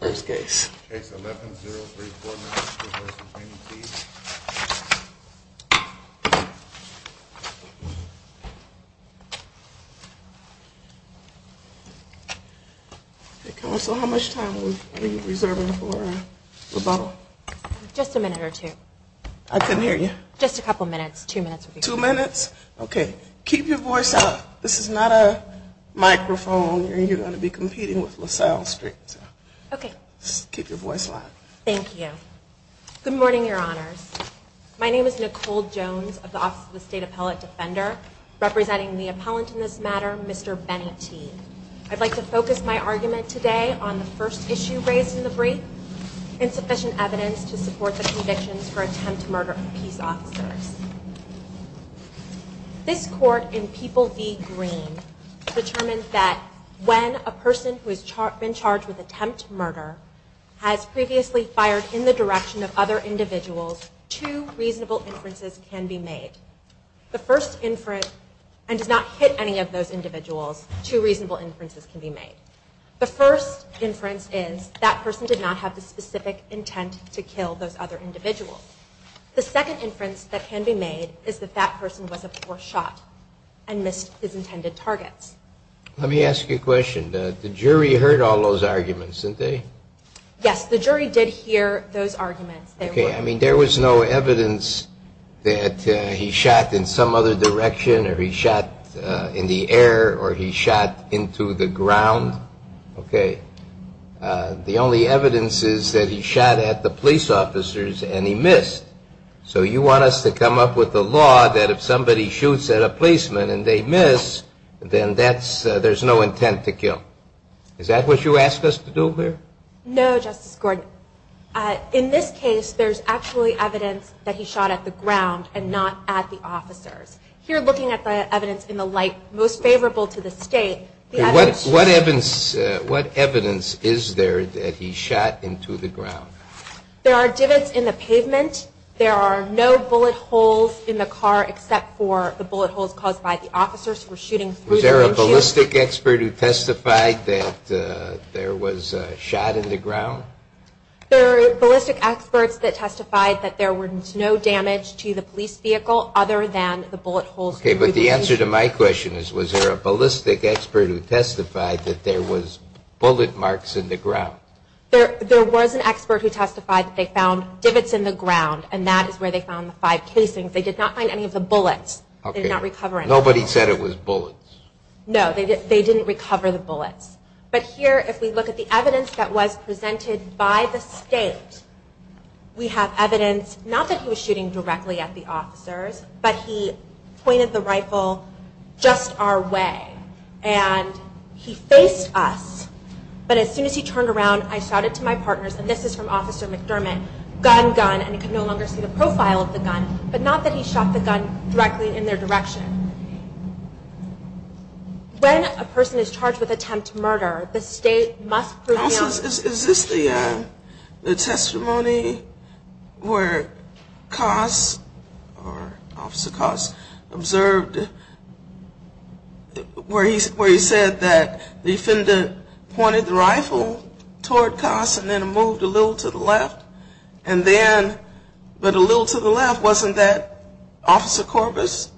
First case. Case 11-034, Madison versus Maine, D.C. Hey, Counsel, how much time are you reserving for rebuttal? Just a minute or two. I couldn't hear you. Just a couple minutes. Two minutes would be fine. Two minutes? Okay. Keep your voice up. This is not a microphone. You're going to be competing with LaSalle Street. Okay. Keep your voice loud. Thank you. Good morning, Your Honors. My name is Nicole Jones of the Office of the State Appellate Defender. Representing the appellant in this matter, Mr. Benny Teague. I'd like to focus my argument today on the first issue raised in the brief, insufficient evidence to support the convictions for attempt to murder peace officers. This court in People v. Green determined that when a person who has been charged with attempt murder has previously fired in the direction of other individuals, two reasonable inferences can be made. The first inference, and does not hit any of those individuals, two reasonable inferences can be made. The first inference is that person did not have the specific intent to kill those other individuals. The second inference that can be made is that that person was a poor shot and missed his intended targets. Let me ask you a question. The jury heard all those arguments, didn't they? Yes. The jury did hear those arguments. Okay. I mean, there was no evidence that he shot in some other direction or he shot in the air or he shot into the ground. Okay. The only evidence is that he shot at the police officers and he missed. So you want us to come up with a law that if somebody shoots at a policeman and they miss, then there's no intent to kill. Is that what you asked us to do here? No, Justice Gordon. In this case, there's actually evidence that he shot at the ground and not at the officers. Here, looking at the evidence in the light most favorable to the State, What evidence is there that he shot into the ground? There are divots in the pavement. There are no bullet holes in the car except for the bullet holes caused by the officers who were shooting through the windshield. Was there a ballistic expert who testified that there was a shot in the ground? There were ballistic experts that testified that there was no damage to the police vehicle other than the bullet holes through the windshield. Okay. But the answer to my question is, was there a ballistic expert who testified that there was bullet marks in the ground? There was an expert who testified that they found divots in the ground, and that is where they found the five casings. They did not find any of the bullets. Nobody said it was bullets. No, they didn't recover the bullets. But here, if we look at the evidence that was presented by the State, we have evidence not that he was shooting directly at the officers, but he pointed the rifle just our way, and he faced us. But as soon as he turned around, I shouted to my partners, and this is from Officer McDermott, gun, gun, and he could no longer see the profile of the gun, but not that he shot the gun directly in their direction. When a person is charged with attempt murder, the State must prove him. Is this the testimony where Coss, or Officer Coss, observed where he said that the defendant pointed the rifle toward Coss and then moved a little to the left, and then, but a little to the left, wasn't that Officer Corbus?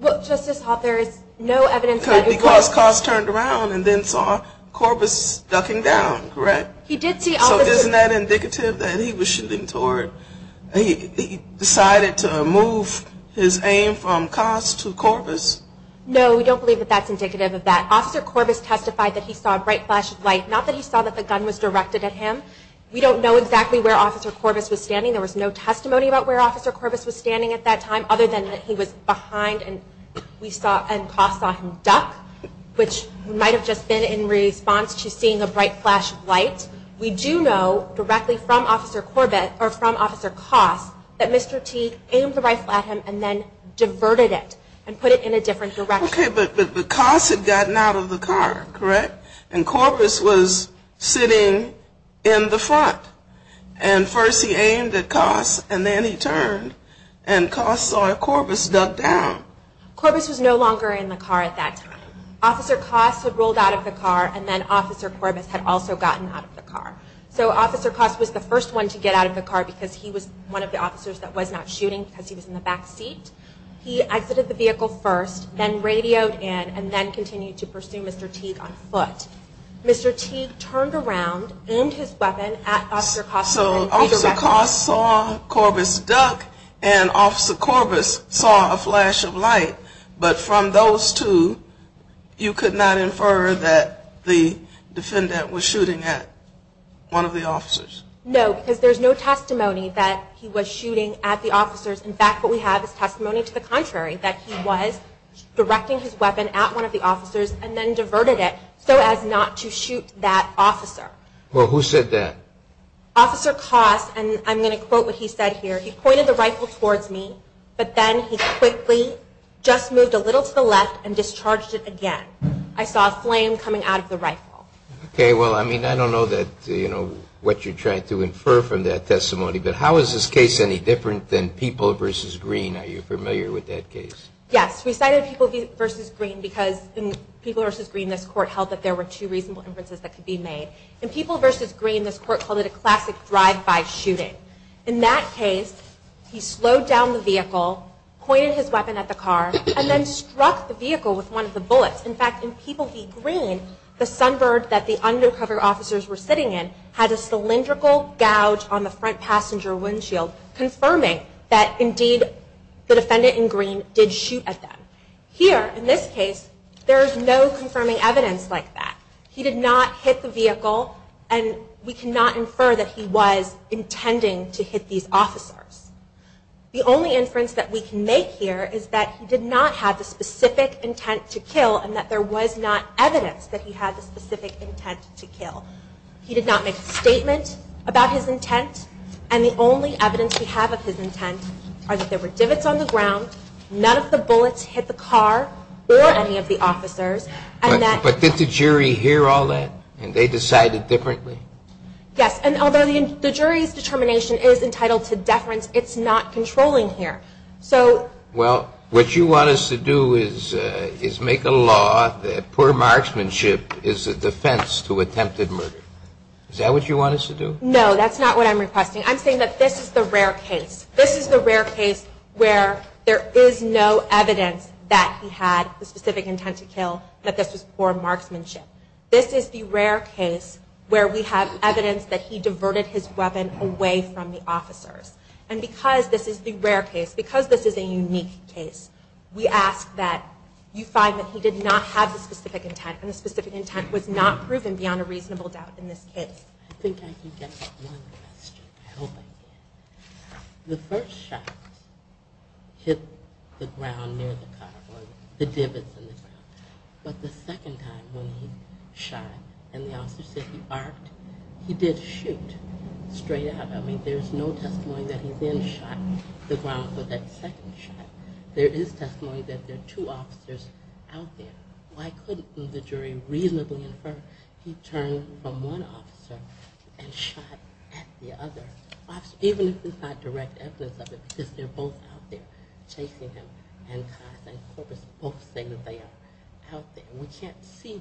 Well, Justice Hoppe, there is no evidence that he was. Because Coss turned around and then saw Corbus ducking down, correct? He did see Officer Corbus. So isn't that indicative that he was shooting toward, he decided to move his aim from Coss to Corbus? No, we don't believe that that's indicative of that. Officer Corbus testified that he saw a bright flash of light, not that he saw that the gun was directed at him. We don't know exactly where Officer Corbus was standing. There was no testimony about where Officer Corbus was standing at that time, other than that he was behind and we saw, and Coss saw him duck, which might have just been in response to seeing a bright flash of light. We do know directly from Officer Corbus, or from Officer Coss, that Mr. T aimed the rifle at him and then diverted it and put it in a different direction. Okay, but Coss had gotten out of the car, correct? And Corbus was sitting in the front. And first he aimed at Coss and then he turned and Coss saw Corbus duck down. Corbus was no longer in the car at that time. Officer Coss had rolled out of the car and then Officer Corbus had also gotten out of the car. So Officer Coss was the first one to get out of the car because he was one of the officers that was not shooting because he was in the back seat. He exited the vehicle first, then radioed in, and then continued to pursue Mr. Teague on foot. Mr. Teague turned around, aimed his weapon at Officer Coss. So Officer Coss saw Corbus duck and Officer Corbus saw a flash of light, but from those two you could not infer that the defendant was shooting at one of the officers? No, because there's no testimony that he was shooting at the officers. In fact, what we have is testimony to the contrary, that he was directing his weapon at one of the officers and then diverted it so as not to shoot that officer. Well, who said that? Officer Coss, and I'm going to quote what he said here, he pointed the rifle towards me, but then he quickly just moved a little to the left and discharged it again. I saw a flame coming out of the rifle. Okay, well, I mean, I don't know what you're trying to infer from that testimony, but how is this case any different than People v. Green? Are you familiar with that case? Yes, we cited People v. Green because in People v. Green, this Court held that there were two reasonable inferences that could be made. In People v. Green, this Court called it a classic drive-by shooting. In that case, he slowed down the vehicle, pointed his weapon at the car, and then struck the vehicle with one of the bullets. In fact, in People v. Green, the sunbird that the undercover officers were sitting in had a cylindrical gouge on the front passenger windshield, confirming that, indeed, the defendant in green did shoot at them. Here, in this case, there is no confirming evidence like that. He did not hit the vehicle, and we cannot infer that he was intending to hit these officers. The only inference that we can make here is that he did not have the specific intent to kill and that there was not evidence that he had the specific intent to kill. He did not make a statement about his intent, and the only evidence we have of his intent are that there were divots on the ground, none of the bullets hit the car or any of the officers. But did the jury hear all that, and they decided differently? Yes, and although the jury's determination is entitled to deference, it's not controlling here. Well, what you want us to do is make a law that poor marksmanship is a defense to attempted murder. Is that what you want us to do? No, that's not what I'm requesting. I'm saying that this is the rare case. where there is no evidence that he had the specific intent to kill, that this was poor marksmanship. This is the rare case where we have evidence that he diverted his weapon away from the officers. And because this is the rare case, because this is a unique case, we ask that you find that he did not have the specific intent, and the specific intent was not proven beyond a reasonable doubt in this case. I think I can get to one question. I hope I can. The first shot hit the ground near the car, or the divots on the ground. But the second time when he shot, and the officer said he arced, he did shoot straight out. I mean, there's no testimony that he then shot the ground for that second shot. There is testimony that there are two officers out there. Why couldn't the jury reasonably infer that he turned from one officer and shot at the other? Even if it's not direct evidence of it, because they're both out there chasing him, and Coss and Corpus both say that they are out there. We can't see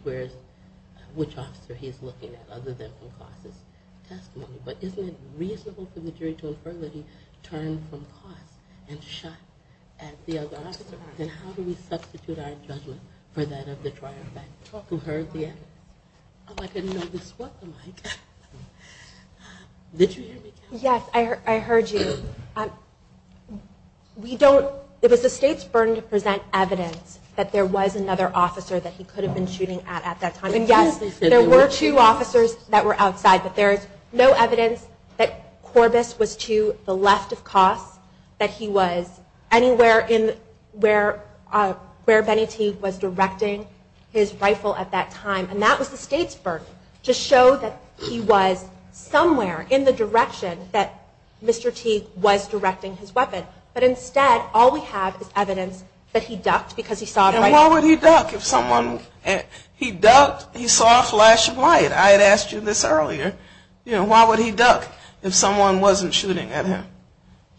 which officer he's looking at other than from Coss' testimony. But isn't it reasonable for the jury to infer that he turned from Coss and shot at the other officer? Then how do we substitute our judgment for that of the triumphant who heard the evidence? Oh, I didn't know this was the mic. Did you hear me? Yes, I heard you. It was the state's burden to present evidence that there was another officer that he could have been shooting at at that time. And yes, there were two officers that were outside, but there's no evidence that Corpus was to the left of Coss, that he was anywhere where Benny Teague was directing his rifle at that time. And that was the state's burden, to show that he was somewhere in the direction that Mr. Teague was directing his weapon. But instead, all we have is evidence that he ducked because he saw a light. And why would he duck? He ducked, he saw a flash of light. I had asked you this earlier. Why would he duck if someone wasn't shooting at him?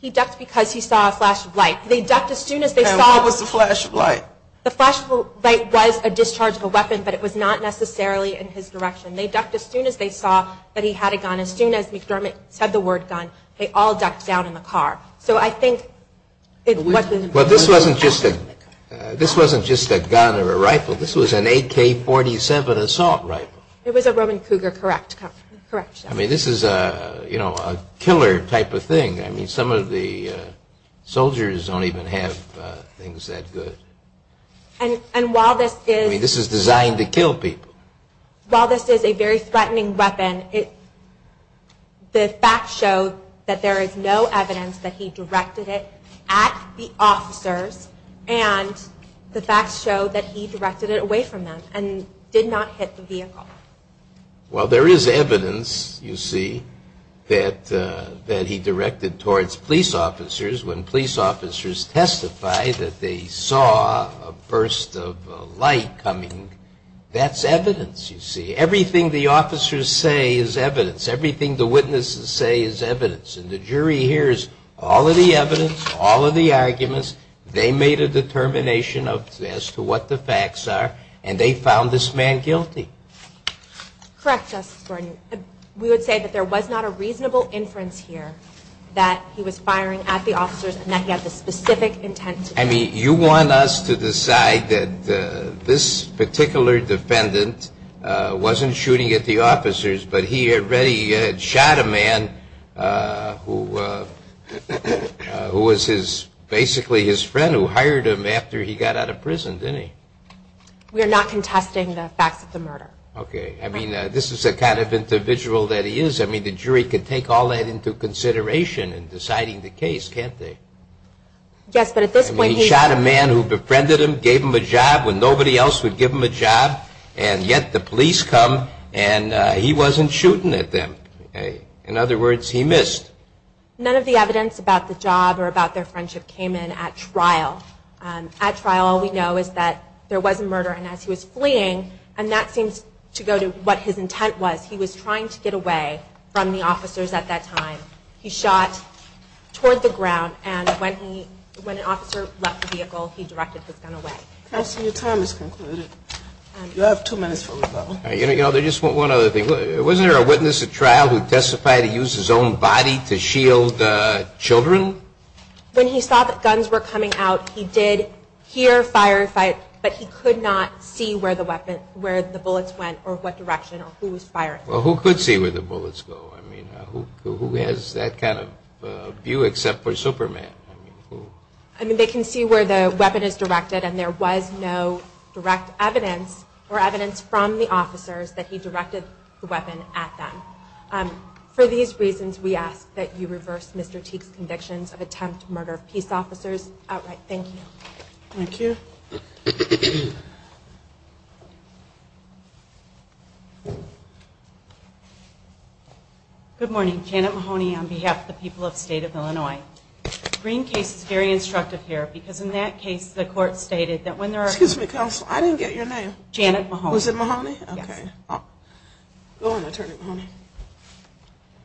He ducked because he saw a flash of light. And what was the flash of light? The flash of light was a discharge of a weapon, but it was not necessarily in his direction. They ducked as soon as they saw that he had a gun. As soon as McDermott said the word gun, they all ducked down in the car. But this wasn't just a gun or a rifle. This was an AK-47 assault rifle. It was a Roman Cougar, correct? I mean, this is a killer type of thing. I mean, some of the soldiers don't even have things that good. I mean, this is designed to kill people. While this is a very threatening weapon, the facts show that there is no evidence that he directed it at the officers, and the facts show that he directed it away from them and did not hit the vehicle. Well, there is evidence, you see, that he directed towards police officers when police officers testify that they saw a burst of light coming. That's evidence, you see. Everything the officers say is evidence. Everything the witnesses say is evidence. And the jury hears all of the evidence, all of the arguments. They made a determination as to what the facts are, and they found this man guilty. Correct, Justice Gordon. We would say that there was not a reasonable inference here that he was firing at the officers and that he had the specific intent to do that. I mean, you want us to decide that this particular defendant wasn't shooting at the officers, but he had already shot a man who was basically his friend who hired him after he got out of prison, didn't he? We are not contesting the facts of the murder. Okay. I mean, this is the kind of individual that he is. I mean, the jury could take all that into consideration in deciding the case, can't they? Yes, but at this point he shot a man who befriended him, gave him a job when nobody else would give him a job, and yet the police come and he wasn't shooting at them. In other words, he missed. None of the evidence about the job or about their friendship came in at trial. At trial, all we know is that there was a murder, and as he was fleeing, and that seems to go to what his intent was. He was trying to get away from the officers at that time. He shot toward the ground, and when an officer left the vehicle, he directed his gun away. Counsel, your time is concluded. You have two minutes for rebuttal. One other thing. Wasn't there a witness at trial who testified he used his own body to shield children? When he saw that guns were coming out, he did hear fire, but he could not see where the bullets went or what direction or who was firing. Well, who could see where the bullets go? I mean, who has that kind of view except for Superman? I mean, they can see where the weapon is directed, and there was no direct evidence or evidence from the officers that he directed the weapon at them. For these reasons, we ask that you reverse Mr. Teague's convictions of attempt to murder peace officers outright. Thank you. Thank you. Good morning. Janet Mahoney on behalf of the people of the state of Illinois. The Green case is very instructive here because in that case, the court stated that when there are... Excuse me, counsel, I didn't get your name. Janet Mahoney.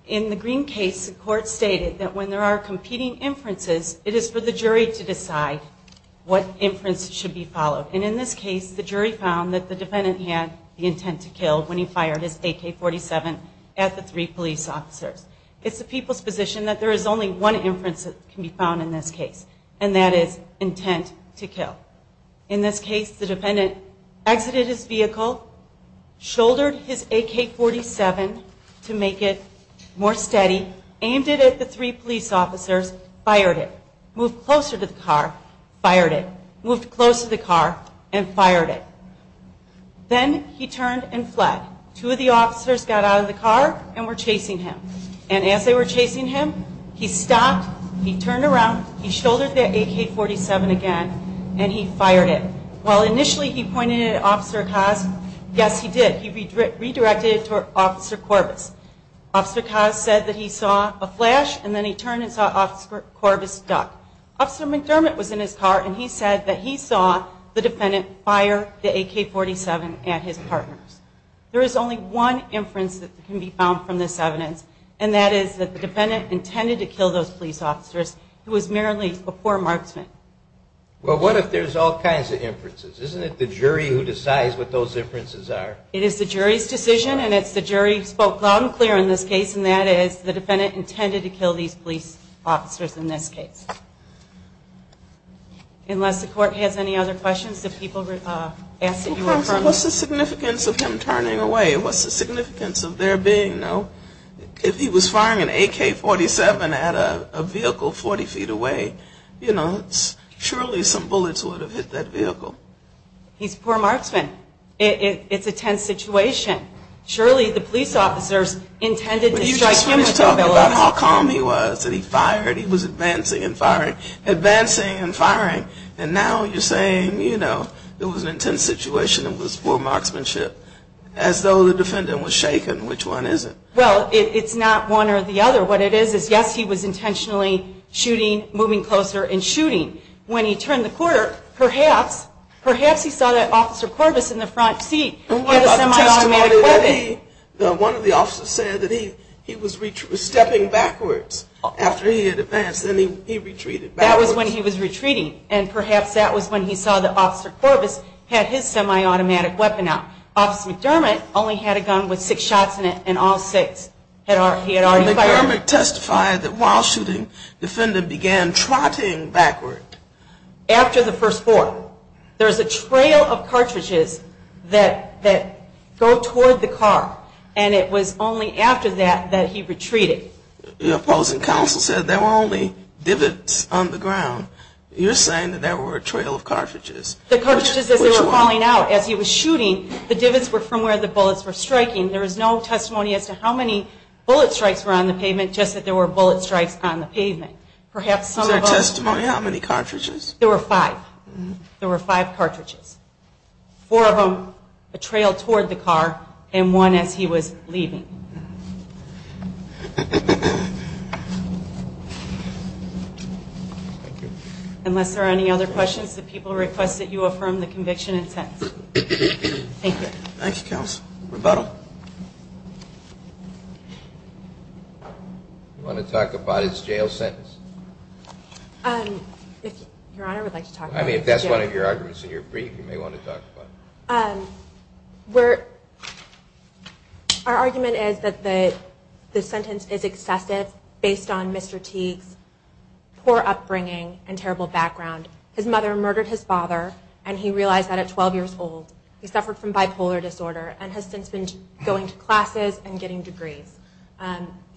In the Green case, the court stated that when there are competing inferences, it is for the jury to decide what inference should be followed, and in this case, the jury found that the defendant had the intent to kill when he fired his AK-47 at the three police officers. It's the people's position that there is only one inference that can be found in this case, and that is intent to kill. In this case, the defendant exited his vehicle, shouldered his AK-47 to make it more steady, aimed it at the three police officers, fired it, moved closer to the car, fired it, moved close to the car, and fired it. Then he turned and fled. Two of the officers got out of the car and were chasing him, and as they were chasing him, he stopped, he turned around, he shouldered the AK-47 again, and he fired it. While initially he pointed it at Officer Cos, yes, he did, he redirected it to Officer Corbis. Officer Cos said that he saw a flash, and then he turned and saw Officer Corbis duck. Officer McDermott was in his car, and he said that he saw the defendant fire the AK-47 at his partners. There is only one inference that can be found from this evidence, and that is that the defendant intended to kill those police officers who was merely a poor marksman. Well, what if there's all kinds of inferences? Isn't it the jury who decides what those inferences are? It is the jury's decision, and it's the jury who spoke loud and clear in this case, and that is the defendant intended to kill these police officers in this case. Unless the court has any other questions, if people ask that you refer them. What's the significance of him turning away? What's the significance of there being, you know, if he was firing an AK-47 at a vehicle 40 feet away, you know, surely some bullets would have hit that vehicle. He's a poor marksman. It's a tense situation. Surely the police officers intended to strike him with their bullets. But you just were talking about how calm he was, that he fired, he was advancing and firing, advancing and firing, and now you're saying, you know, there was an intense situation and it was poor marksmanship, as though the defendant was shaken, which one isn't? Well, it's not one or the other. What it is is, yes, he was intentionally shooting, moving closer and shooting. When he turned the corner, perhaps, perhaps he saw that Officer Corbis in the front seat in the semi-automatic weapon. One of the officers said that he was stepping backwards after he had advanced, then he retreated backwards. That was when he was retreating, and perhaps that was when he saw that Officer Corbis had his semi-automatic weapon out. Officer McDermott only had a gun with six shots in it, and all six he had already fired. And McDermott testified that while shooting, the defendant began trotting backward. After the first four. There's a trail of cartridges that go toward the car, and it was only after that that he retreated. The opposing counsel said there were only divots on the ground. You're saying that there were a trail of cartridges. The cartridges, as they were falling out as he was shooting, the divots were from where the bullets were striking. There is no testimony as to how many bullet strikes were on the pavement, just that there were bullet strikes on the pavement. Is there testimony on how many cartridges? There were five. There were five cartridges. Four of them a trail toward the car, and one as he was leaving. Thank you. Unless there are any other questions, the people request that you affirm the conviction and sentence. Thank you. Thank you, Counsel. Rebuttal. Do you want to talk about his jail sentence? Your Honor, I would like to talk about his jail sentence. I mean, if that's one of your arguments in your brief, you may want to talk about it. Our argument is that the sentence is excessive based on Mr. Teague's poor upbringing and terrible background. His mother murdered his father, and he realized that at 12 years old. He suffered from bipolar disorder and has since been going to classes and getting degrees.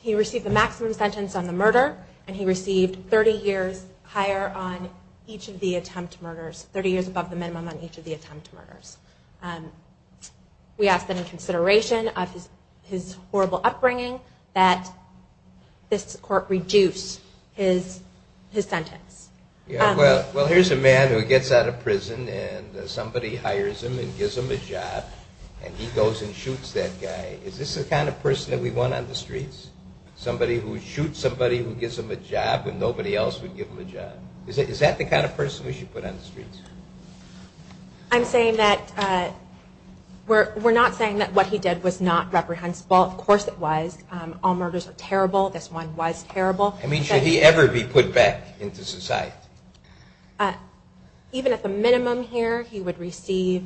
He received the maximum sentence on the murder, and he received 30 years higher on each of the attempt murders, We ask that in consideration of his horrible upbringing that this court reduce his sentence. Well, here's a man who gets out of prison and somebody hires him and gives him a job, and he goes and shoots that guy. Is this the kind of person that we want on the streets? Somebody who shoots somebody who gives them a job when nobody else would give them a job? Is that the kind of person we should put on the streets? I'm saying that... We're not saying that what he did was not reprehensible. Of course it was. All murders are terrible. This one was terrible. I mean, should he ever be put back into society? Even at the minimum here, he would receive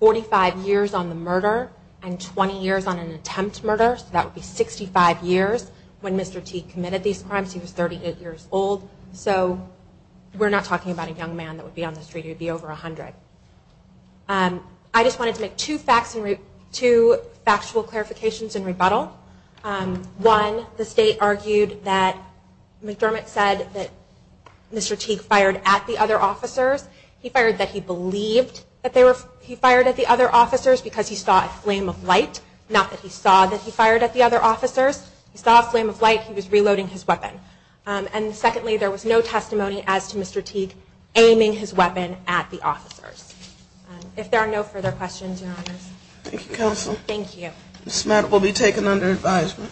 45 years on the murder and 20 years on an attempt murder, so that would be 65 years when Mr. Teague committed these crimes. He was 38 years old, so we're not talking about a young man that would be on the street. He would be over 100. I just wanted to make two factual clarifications in rebuttal. One, the state argued that... McDermott said that Mr. Teague fired at the other officers. He fired that he believed that he fired at the other officers because he saw a flame of light. Not that he saw that he fired at the other officers. He saw a flame of light. He was reloading his weapon. And secondly, there was no testimony as to Mr. Teague aiming his weapon at the officers. If there are no further questions, Your Honors. Thank you, Counsel. This matter will be taken under advisement.